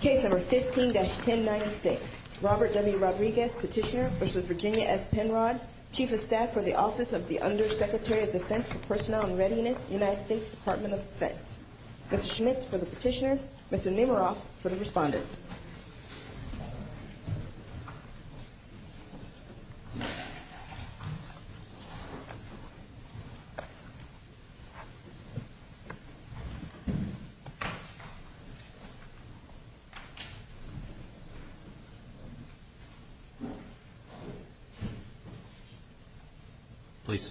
Chief of Staff for the Office of the Undersecretary of Defense for Personnel and Readiness, United States Department of Defense. Mr. Schmidt for the petitioner, Mr. Nemeroff for the respondent. Please.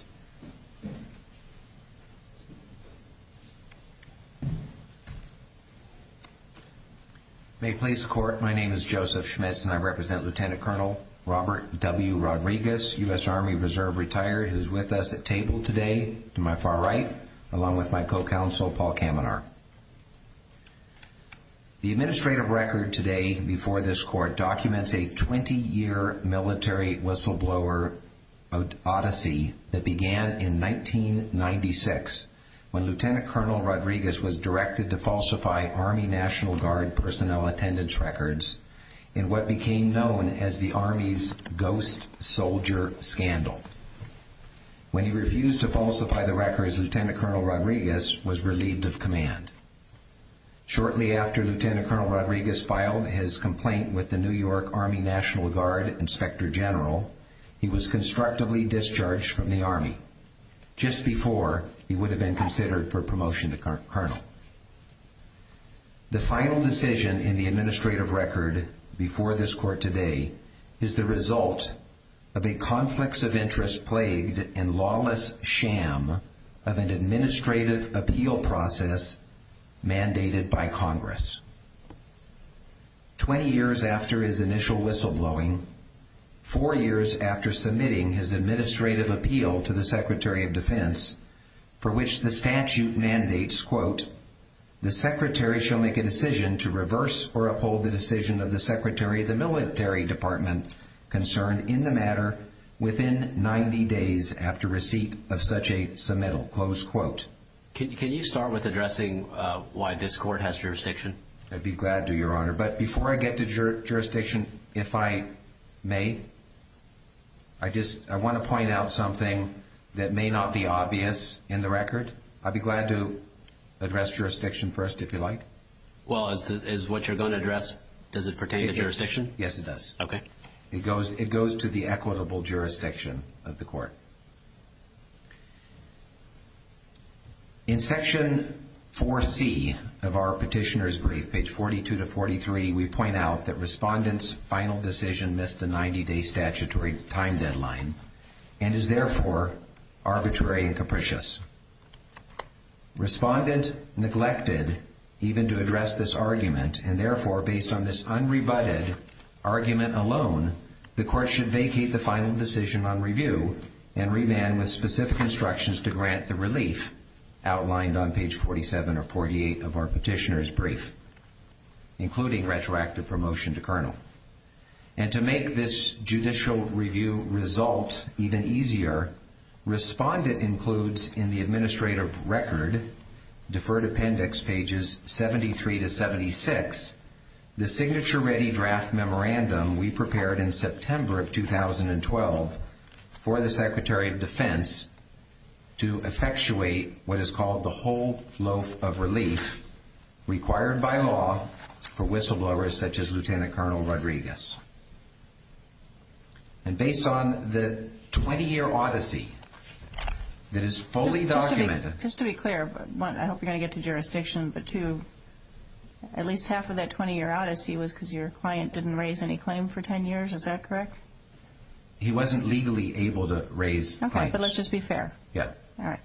May it please the Court, my name is Joseph Schmitz and I represent Lieutenant Colonel Robert W. Rodriguez, U.S. Army Reserve retired, who is with us at table today to my far right, along with my co-counsel, Paul Kaminar. The administrative record today before this Court documents a 20-year military whistleblower odyssey that began in 1996 when Lieutenant Colonel Rodriguez was directed to falsify Army National Guard personnel attendance records in what became known as the Army's Ghost Soldier Scandal. When he refused to falsify the records, Lieutenant Colonel Rodriguez was relieved of command. Shortly after Lieutenant Colonel Rodriguez filed his complaint with the New York Army National Guard Inspector General, he was constructively discharged from the Army, just before he would have been considered for promotion to Colonel. The final decision in the administrative record before this Court today is the result of a conflicts of interest plagued and lawless sham of an administrative appeal process mandated by Congress. Twenty years after his initial whistleblowing, four years after submitting his administrative appeal to the Secretary of Defense, for which the statute mandates, quote, the Secretary shall make a decision to reverse or uphold the decision of the Secretary of the Military Department concerned in the matter within 90 days after receipt of such a submittal, close quote. Can you start with addressing why this Court has jurisdiction? I'd be glad to, Your Honor. But before I get to jurisdiction, if I may, I want to point out something that may not be obvious in the record. I'd be glad to address jurisdiction first, if you like. Well, is what you're going to address, does it pertain to jurisdiction? Yes, it does. Okay. It goes to the equitable jurisdiction of the Court. In Section 4C of our Petitioner's Brief, page 42 to 43, we point out that Respondent's final decision missed the 90-day statutory time deadline and is therefore arbitrary and capricious. Respondent neglected even to address this argument, and therefore, based on this unrebutted argument alone, the Court should vacate the final decision on review and remand with specific instructions to grant the relief outlined on page 47 or 48 of our Petitioner's Brief, including retroactive promotion to Colonel. And to make this judicial review result even easier, Respondent includes in the Administrative Record, Deferred Appendix, pages 73 to 76, the signature-ready draft memorandum we prepared in September of 2012 for the Secretary of Defense to effectuate what is called the Whole Loaf of Relief, required by law for whistleblowers such as Lieutenant Colonel Rodriguez. And based on the 20-year odyssey that is fully documented... Just to be clear, I hope you're going to get to jurisdiction, but two, at least half of that 20-year odyssey was because your client didn't raise any claim for 10 years, is that correct? He wasn't legally able to raise claims. Okay, but let's just be fair. Yeah. All right.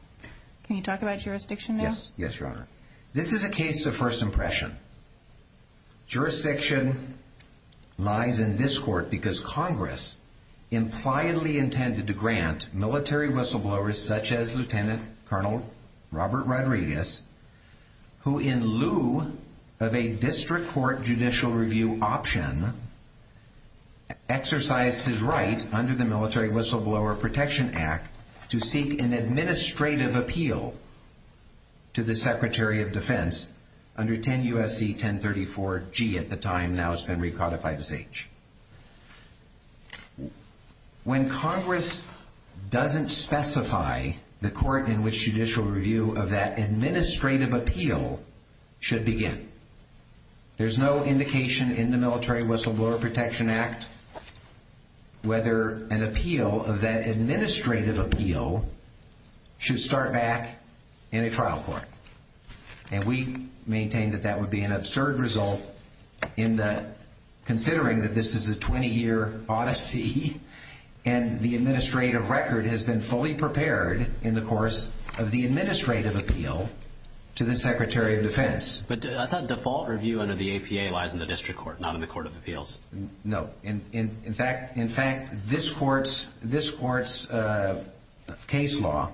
Can you talk about jurisdiction now? Yes, Your Honor. This is a case of first impression. When Congress doesn't specify the court in which judicial review of that administrative appeal should begin, there's no indication in the Military Whistleblower Protection Act whether an appeal of that administrative appeal should start back in a trial court. And we maintain that that would be an absurd result, considering that this is a 20-year odyssey, and the administrative record has been fully prepared in the course of the administrative appeal to the Secretary of Defense. But I thought default review under the APA lies in the district court, not in the court of appeals. No. In fact, this court's case law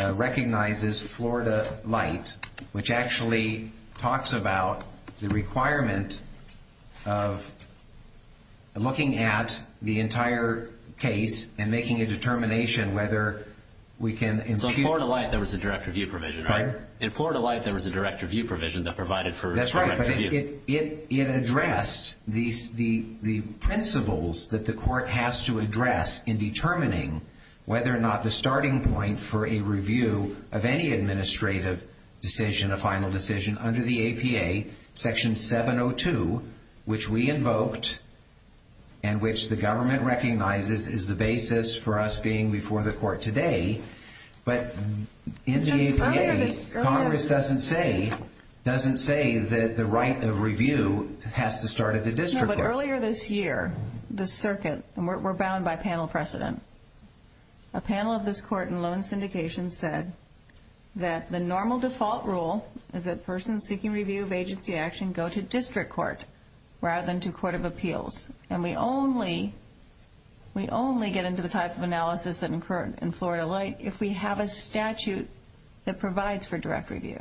recognizes Florida Light, which actually talks about the requirement of looking at the entire case and making a determination whether we can... So Florida Light, there was a direct review provision, right? In Florida Light, there was a direct review provision that provided for direct review. It addressed the principles that the court has to address in determining whether or not the starting point for a review of any administrative decision, a final decision, under the APA, Section 702, which we invoked and which the government recognizes is the basis for us being before the court today. But in the APA, Congress doesn't say that the right of review has to start at the district court. No, but earlier this year, the circuit, and we're bound by panel precedent, a panel of this court in loan syndication said that the normal default rule is that persons seeking review of agency action go to district court rather than to court of appeals. And we only get into the type of analysis that occur in Florida Light if we have a statute that provides for direct review.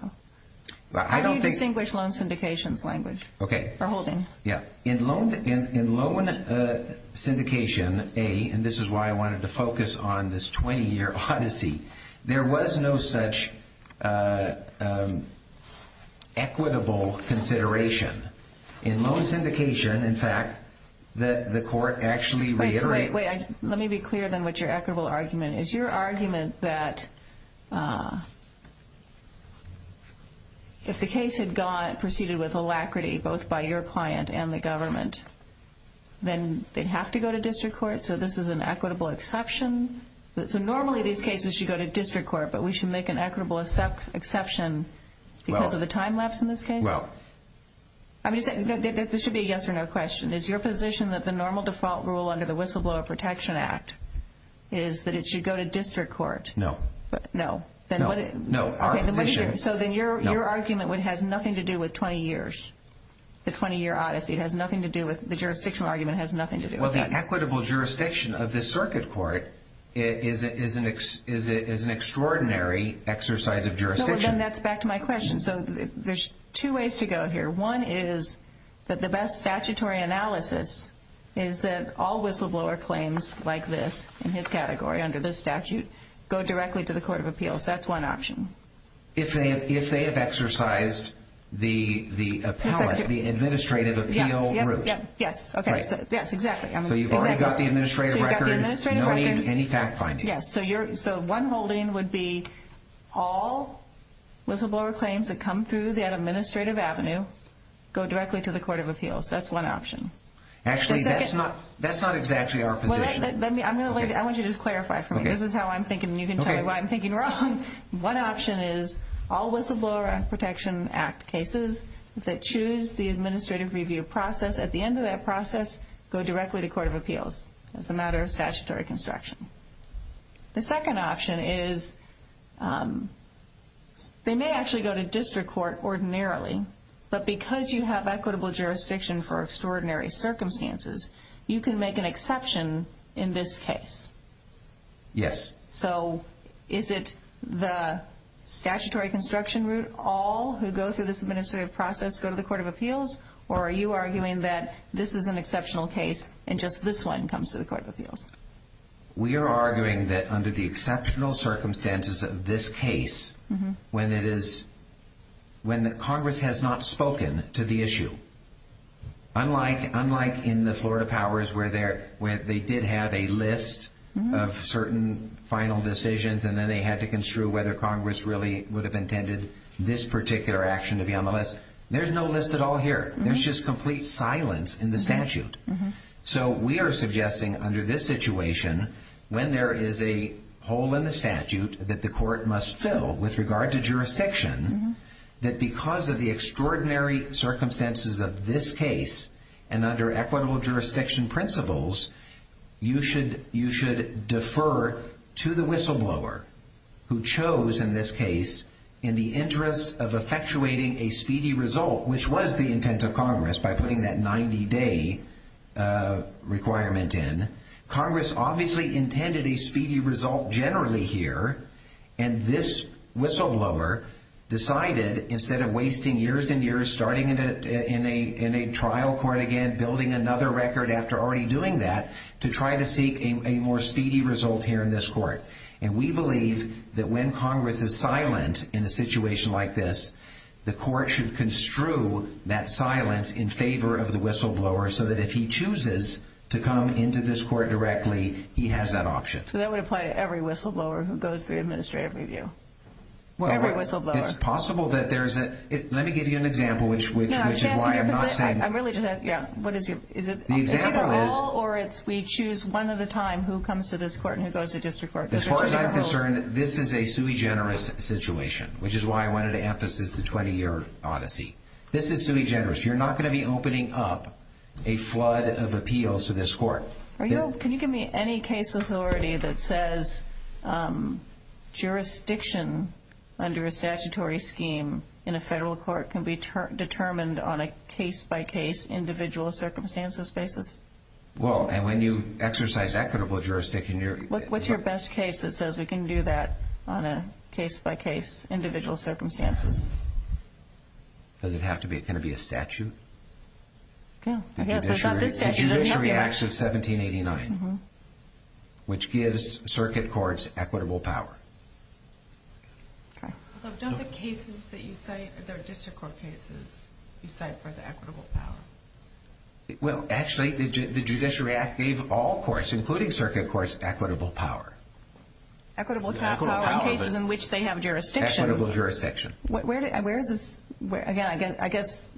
How do you distinguish loan syndication's language? Okay. For holding? Yeah. In loan syndication A, and this is why I wanted to focus on this 20-year odyssey, there was no such equitable consideration. In loan syndication, in fact, the court actually reiterated... Then they'd have to go to district court? So this is an equitable exception? So normally these cases should go to district court, but we should make an equitable exception because of the time lapse in this case? Well... I'm just saying, this should be a yes or no question. Is your position that the normal default rule under the Whistleblower Protection Act is that it should go to district court? No. No. No, our position... So then your argument has nothing to do with 20 years? The 20-year odyssey has nothing to do with... the jurisdictional argument has nothing to do with... Well, the equitable jurisdiction of this circuit court is an extraordinary exercise of jurisdiction. No, then that's back to my question. So there's two ways to go here. One is that the best statutory analysis is that all whistleblower claims like this, in his category, under this statute, go directly to the court of appeals. That's one option. If they have exercised the administrative appeal route? Yes. Yes, exactly. So you've already got the administrative record, no need for any fact-finding? Yes. So one holding would be all whistleblower claims that come through that administrative avenue go directly to the court of appeals. That's one option. Actually, that's not exactly our position. I want you to just clarify for me. This is how I'm thinking, and you can tell me why I'm thinking wrong. One option is all whistleblower protection act cases that choose the administrative review process, at the end of that process, go directly to court of appeals as a matter of statutory construction. The second option is they may actually go to district court ordinarily, but because you have equitable jurisdiction for extraordinary circumstances, you can make an exception in this case. Yes. So is it the statutory construction route, all who go through this administrative process go to the court of appeals, or are you arguing that this is an exceptional case and just this one comes to the court of appeals? We are arguing that under the exceptional circumstances of this case, when Congress has not spoken to the issue, unlike in the Florida powers where they did have a list of certain final decisions, and then they had to construe whether Congress really would have intended this particular action to be on the list, there's no list at all here. There's just complete silence in the statute. So we are suggesting under this situation, when there is a hole in the statute that the court must fill with regard to jurisdiction, that because of the extraordinary circumstances of this case and under equitable jurisdiction principles, you should defer to the whistleblower who chose in this case in the interest of effectuating a speedy result, which was the intent of Congress by putting that 90-day requirement in. Congress obviously intended a speedy result generally here, and this whistleblower decided, instead of wasting years and years starting in a trial court again, building another record after already doing that, to try to seek a more speedy result here in this court. And we believe that when Congress is silent in a situation like this, the court should construe that silence in favor of the whistleblower so that if he chooses to come into this court directly, he has that option. So that would apply to every whistleblower who goes through administrative review. Every whistleblower. It's possible that there's a – let me give you an example, which is why I'm not saying – I'm really just – yeah. What is your – is it – The example is – It's either all or it's we choose one at a time who comes to this court and who goes to district court. As far as I'm concerned, this is a sui generis situation, which is why I wanted to emphasis the 20-year odyssey. This is sui generis. You're not going to be opening up a flood of appeals to this court. Are you – can you give me any case authority that says jurisdiction under a statutory scheme in a federal court can be determined on a case-by-case, individual circumstances basis? Well, and when you exercise equitable jurisdiction, you're – What's your best case that says we can do that on a case-by-case, individual circumstances? Does it have to be – can it be a statute? Yeah. I guess it's not this statute. The Judiciary Act of 1789, which gives circuit courts equitable power. Okay. Don't the cases that you cite, they're district court cases, you cite for the equitable power? Well, actually, the Judiciary Act gave all courts, including circuit courts, equitable power. Equitable power in cases in which they have jurisdiction. Equitable jurisdiction. Where is this – again, I guess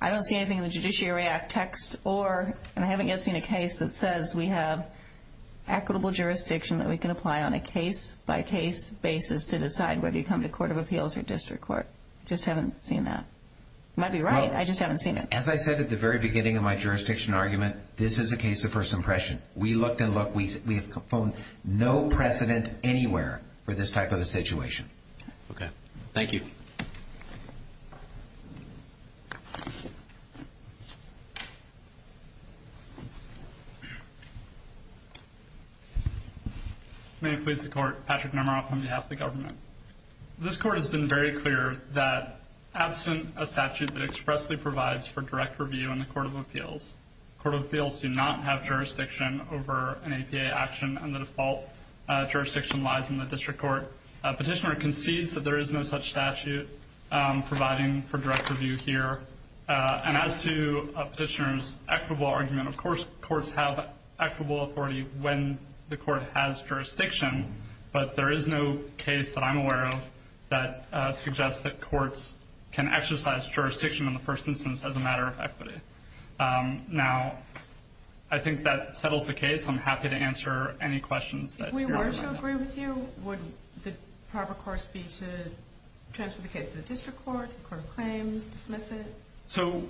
I don't see anything in the Judiciary Act text or – and I haven't yet seen a case that says we have equitable jurisdiction that we can apply on a case-by-case basis to decide whether you come to court of appeals or district court. Just haven't seen that. You might be right. I just haven't seen it. As I said at the very beginning of my jurisdiction argument, this is a case of first impression. We looked and looked. We have found no precedent anywhere for this type of a situation. Okay. Thank you. May it please the Court. Patrick Normaroff on behalf of the government. This Court has been very clear that absent a statute that expressly provides for direct review in the court of appeals, court of appeals do not have jurisdiction over an APA action, and the default jurisdiction lies in the district court. Petitioner concedes that there is no such statute providing for direct review here. And as to Petitioner's equitable argument, of course courts have equitable authority when the court has jurisdiction, but there is no case that I'm aware of that suggests that courts can exercise jurisdiction in the first instance as a matter of equity. Now, I think that settles the case. I'm happy to answer any questions that you have about that. If we were to agree with you, would the proper course be to transfer the case to the district court, to the court of claims, dismiss it? So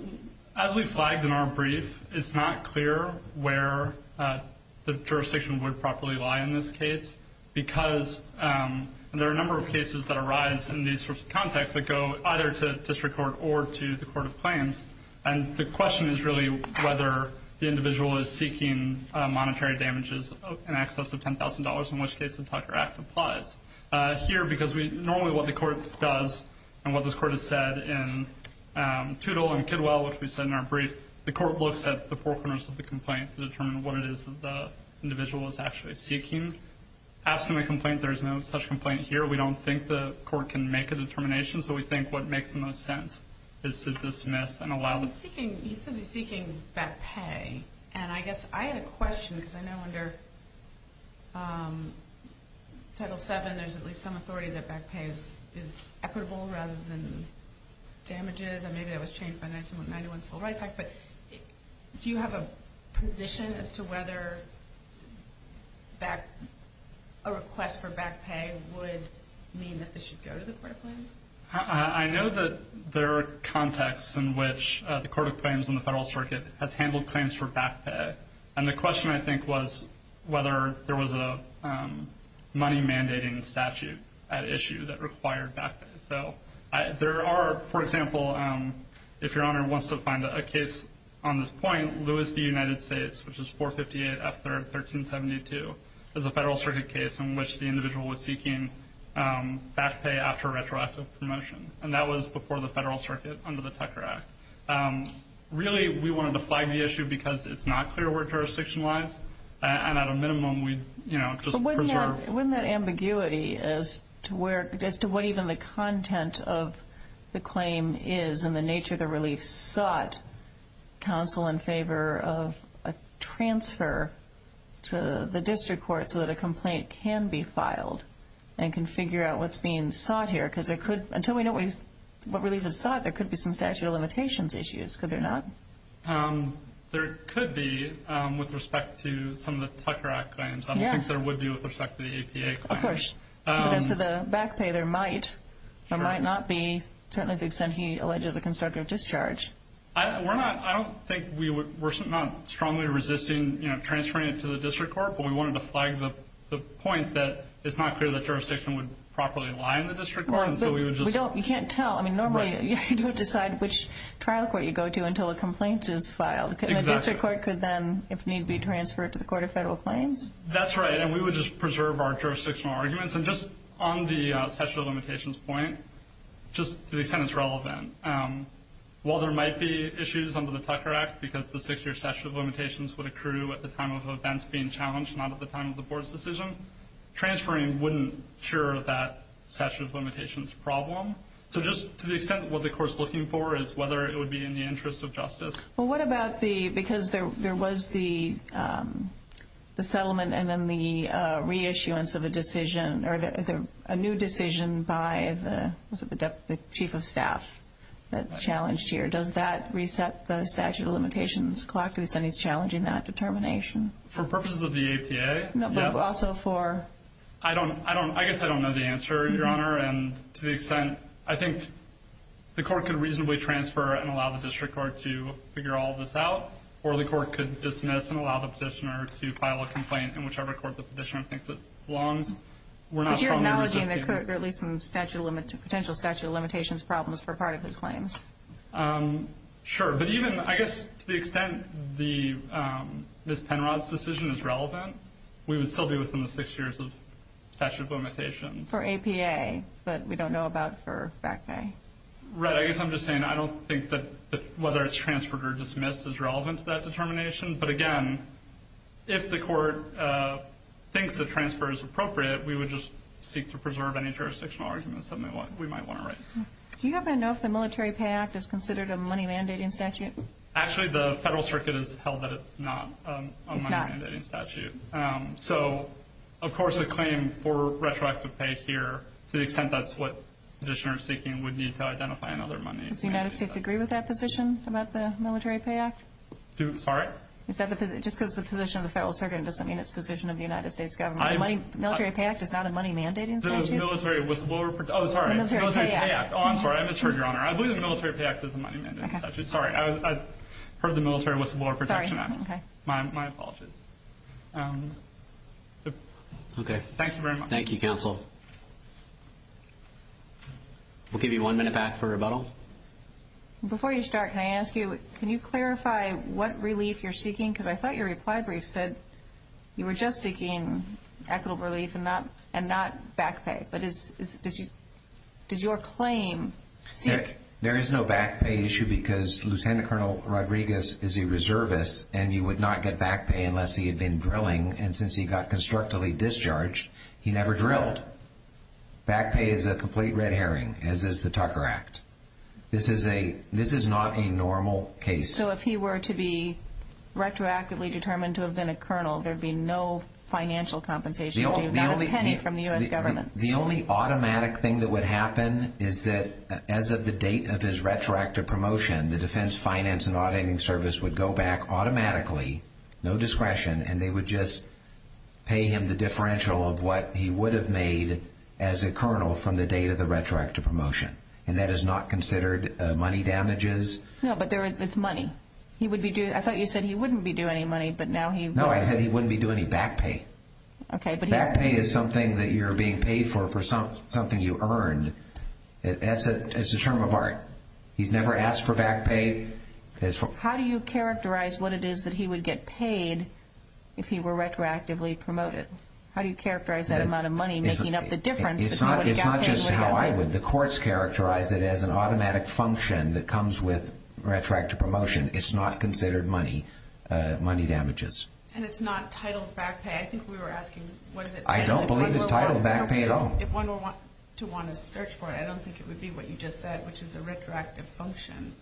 as we flagged in our brief, it's not clear where the jurisdiction would properly lie in this case because there are a number of cases that arise in these sorts of contexts that go either to district court or to the court of claims, and the question is really whether the individual is seeking monetary damages in excess of $10,000, in which case the Tucker Act applies. Here, because normally what the court does and what this court has said in Toodle and Kidwell, which we said in our brief, the court looks at the four corners of the complaint to determine what it is that the individual is actually seeking. Abstinent complaint, there is no such complaint here. We don't think the court can make a determination, so we think what makes the most sense is to dismiss and allow. He says he's seeking back pay, and I guess I had a question because I know under Title VII there's at least some authority that back pay is equitable rather than damages, and maybe that was changed by 1991 Civil Rights Act, but do you have a position as to whether a request for back pay would mean that this should go to the court of claims? I know that there are contexts in which the court of claims in the Federal Circuit has handled claims for back pay, and the question I think was whether there was a money-mandating statute at issue that required back pay. So there are, for example, if Your Honor wants to find a case on this point, Lewis v. United States, which is 458 F. 3rd, 1372, is a Federal Circuit case in which the individual was seeking back pay after retroactive promotion, and that was before the Federal Circuit under the Tucker Act. Really, we wanted to flag the issue because it's not clear where jurisdiction lies, and at a minimum we'd just preserve. But wouldn't that ambiguity as to what even the content of the claim is and the nature of the relief sought counsel in favor of a transfer to the district court so that a complaint can be filed and can figure out what's being sought here? Because until we know what relief is sought, there could be some statute of limitations issues, could there not? There could be with respect to some of the Tucker Act claims. I don't think there would be with respect to the APA claims. Of course. But as to the back pay, there might or might not be, certainly to the extent he alleges a constructive discharge. I don't think we're strongly resisting transferring it to the district court, but we wanted to flag the point that it's not clear that jurisdiction would properly lie in the district court. You can't tell. Normally, you don't decide which trial court you go to until a complaint is filed. The district court could then, if need be, transfer it to the Court of Federal Claims? That's right, and we would just preserve our jurisdictional arguments. And just on the statute of limitations point, just to the extent it's relevant, while there might be issues under the Tucker Act because the six-year statute of limitations would accrue at the time of events being challenged, not at the time of the board's decision, transferring wouldn't cure that statute of limitations problem. So just to the extent what the court's looking for is whether it would be in the interest of justice. Well, what about the, because there was the settlement and then the reissuance of a decision, or a new decision by the chief of staff that's challenged here. Does that reset the statute of limitations? Co-operative Senate is challenging that determination. For purposes of the APA, yes. But also for? I guess I don't know the answer, Your Honor. And to the extent, I think the court could reasonably transfer and allow the district court to figure all this out, or the court could dismiss and allow the petitioner to file a complaint in whichever court the petitioner thinks it belongs. But you're acknowledging there could be some potential statute of limitations problems for part of his claims? Sure. But even, I guess, to the extent Ms. Penrod's decision is relevant, we would still be within the six years of statute of limitations. For APA, but we don't know about for back pay. Right. I guess I'm just saying I don't think that whether it's transferred or dismissed is relevant to that determination. But, again, if the court thinks the transfer is appropriate, we would just seek to preserve any jurisdictional arguments that we might want to raise. Do you happen to know if the Military Pay Act is considered a money-mandating statute? Actually, the federal circuit has held that it's not a money-mandating statute. It's not? So, of course, a claim for retroactive pay here, to the extent that's what petitioners are seeking, would need to identify another money-mandating statute. Does the United States agree with that position about the Military Pay Act? Sorry? Just because it's the position of the federal circuit doesn't mean it's the position of the United States government. The Military Pay Act is not a money-mandating statute? Oh, sorry. The Military Pay Act. Oh, I'm sorry. I misheard, Your Honor. I believe the Military Pay Act is a money-mandating statute. Sorry. I've heard the Military Wistleblower Protection Act. Sorry. Okay. My apologies. Okay. Thank you very much. Thank you, Counsel. We'll give you one minute back for rebuttal. Before you start, can I ask you, can you clarify what relief you're seeking? Because I thought your reply brief said you were just seeking equitable relief and not back pay. But is your claim sick? There is no back pay issue because Lieutenant Colonel Rodriguez is a reservist, and you would not get back pay unless he had been drilling. And since he got constructively discharged, he never drilled. Back pay is a complete red herring, as is the Tucker Act. This is not a normal case. So if he were to be retroactively determined to have been a colonel, there would be no financial compensation? Not a penny from the U.S. government? The only automatic thing that would happen is that as of the date of his retroactive promotion, the Defense Finance and Auditing Service would go back automatically, no discretion, and they would just pay him the differential of what he would have made as a colonel from the date of the retroactive promotion. And that is not considered money damages? No, but it's money. I thought you said he wouldn't be due any money, but now he would. No, I said he wouldn't be due any back pay. Back pay is something that you're being paid for, for something you earned. It's a term of art. He's never asked for back pay. How do you characterize what it is that he would get paid if he were retroactively promoted? How do you characterize that amount of money making up the difference? It's not just how I would. The courts characterize it as an automatic function that comes with retroactive promotion. It's not considered money damages. And it's not titled back pay? I think we were asking what is it titled? I don't believe it's titled back pay at all. If one were to want to search for it, I don't think it would be what you just said, which is a retroactive function.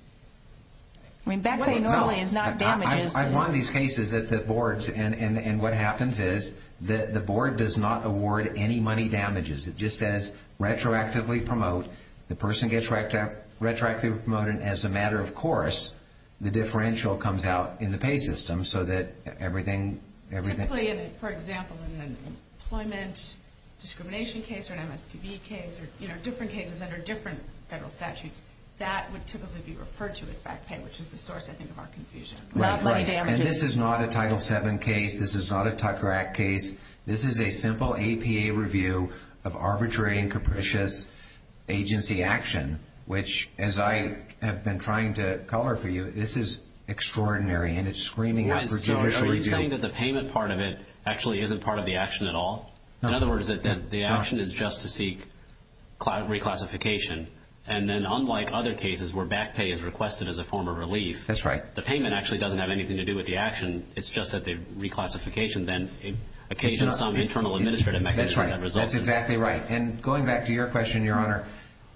Back pay normally is not damages. I've won these cases at the boards, and what happens is the board does not award any money damages. It just says retroactively promote. The person gets retroactively promoted, and as a matter of course, the differential comes out in the pay system so that everything. Typically, for example, in an employment discrimination case or an MSPB case or different cases under different federal statutes, that would typically be referred to as back pay, which is the source, I think, of our confusion. Right, right. Not money damages. And this is not a Title VII case. This is not a Tucker Act case. This is a simple APA review of arbitrary and capricious agency action, which, as I have been trying to color for you, this is extraordinary, and it's screaming out for judicial review. Are you saying that the payment part of it actually isn't part of the action at all? In other words, that the action is just to seek reclassification, and then unlike other cases where back pay is requested as a form of relief. That's right. The payment actually doesn't have anything to do with the action. It's just that the reclassification then occasions some internal administrative mechanism. That's right. That's exactly right. And going back to your question, Your Honor,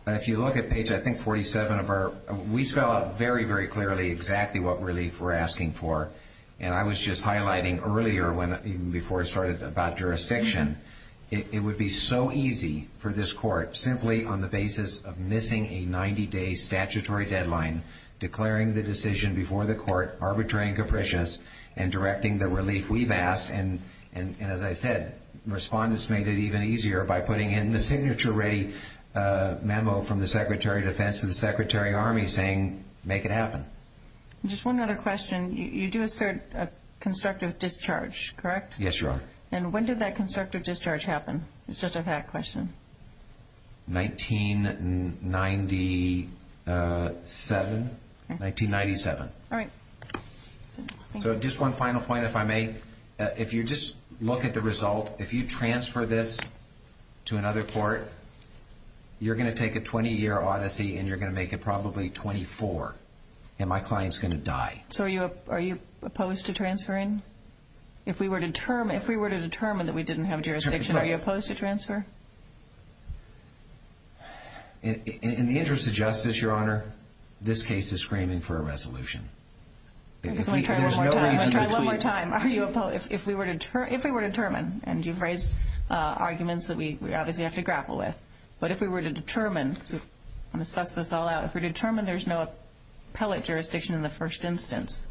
if you look at page, I think, 47 of our, we spell out very, very clearly exactly what relief we're asking for, and I was just highlighting earlier when, even before I started, about jurisdiction. It would be so easy for this court, simply on the basis of missing a 90-day statutory deadline, declaring the decision before the court arbitrary and capricious and directing the relief we've asked. And as I said, respondents made it even easier by putting in the signature-ready memo from the Secretary of Defense to the Secretary of Army saying, make it happen. Just one other question. You do assert a constructive discharge, correct? Yes, Your Honor. And when did that constructive discharge happen? It's just a fact question. 1997. All right. So just one final point, if I may. If you just look at the result, if you transfer this to another court, you're going to take a 20-year odyssey and you're going to make it probably 24, and my client's going to die. So are you opposed to transferring? If we were to determine that we didn't have jurisdiction, are you opposed to transfer? In the interest of justice, Your Honor, this case is screaming for a resolution. Let me try one more time. I'll try one more time. Are you opposed? If we were to determine, and you've raised arguments that we obviously have to grapple with, but if we were to determine, I'm going to suss this all out, if we were to determine there's no appellate jurisdiction in the first instance,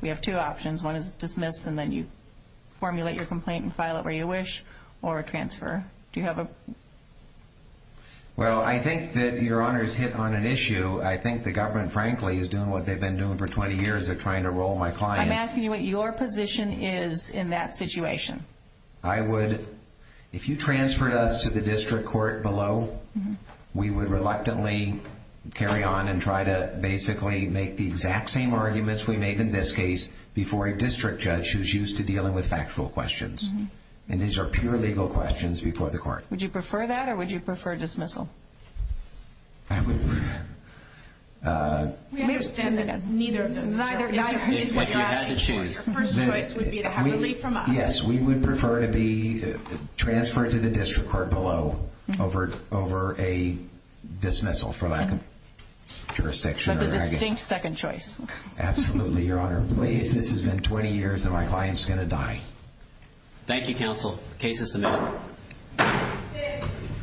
we have two options. One is dismiss, and then you formulate your complaint and file it where you wish, or transfer. Do you have a...? Well, I think that Your Honor's hit on an issue. I think the government, frankly, is doing what they've been doing for 20 years. They're trying to roll my client. I'm asking you what your position is in that situation. I would, if you transferred us to the district court below, we would reluctantly carry on and try to basically make the exact same arguments we made in this case before a district judge who's used to dealing with factual questions. And these are pure legal questions before the court. Would you prefer that, or would you prefer dismissal? I would... We understand that neither of those are certain. Your first choice would be to have relief from us. Yes, we would prefer to be transferred to the district court below over a dismissal for lack of jurisdiction. That's a distinct second choice. Absolutely, Your Honor. Please, this has been 20 years, and my client's going to die. Thank you, counsel. Case is submitted.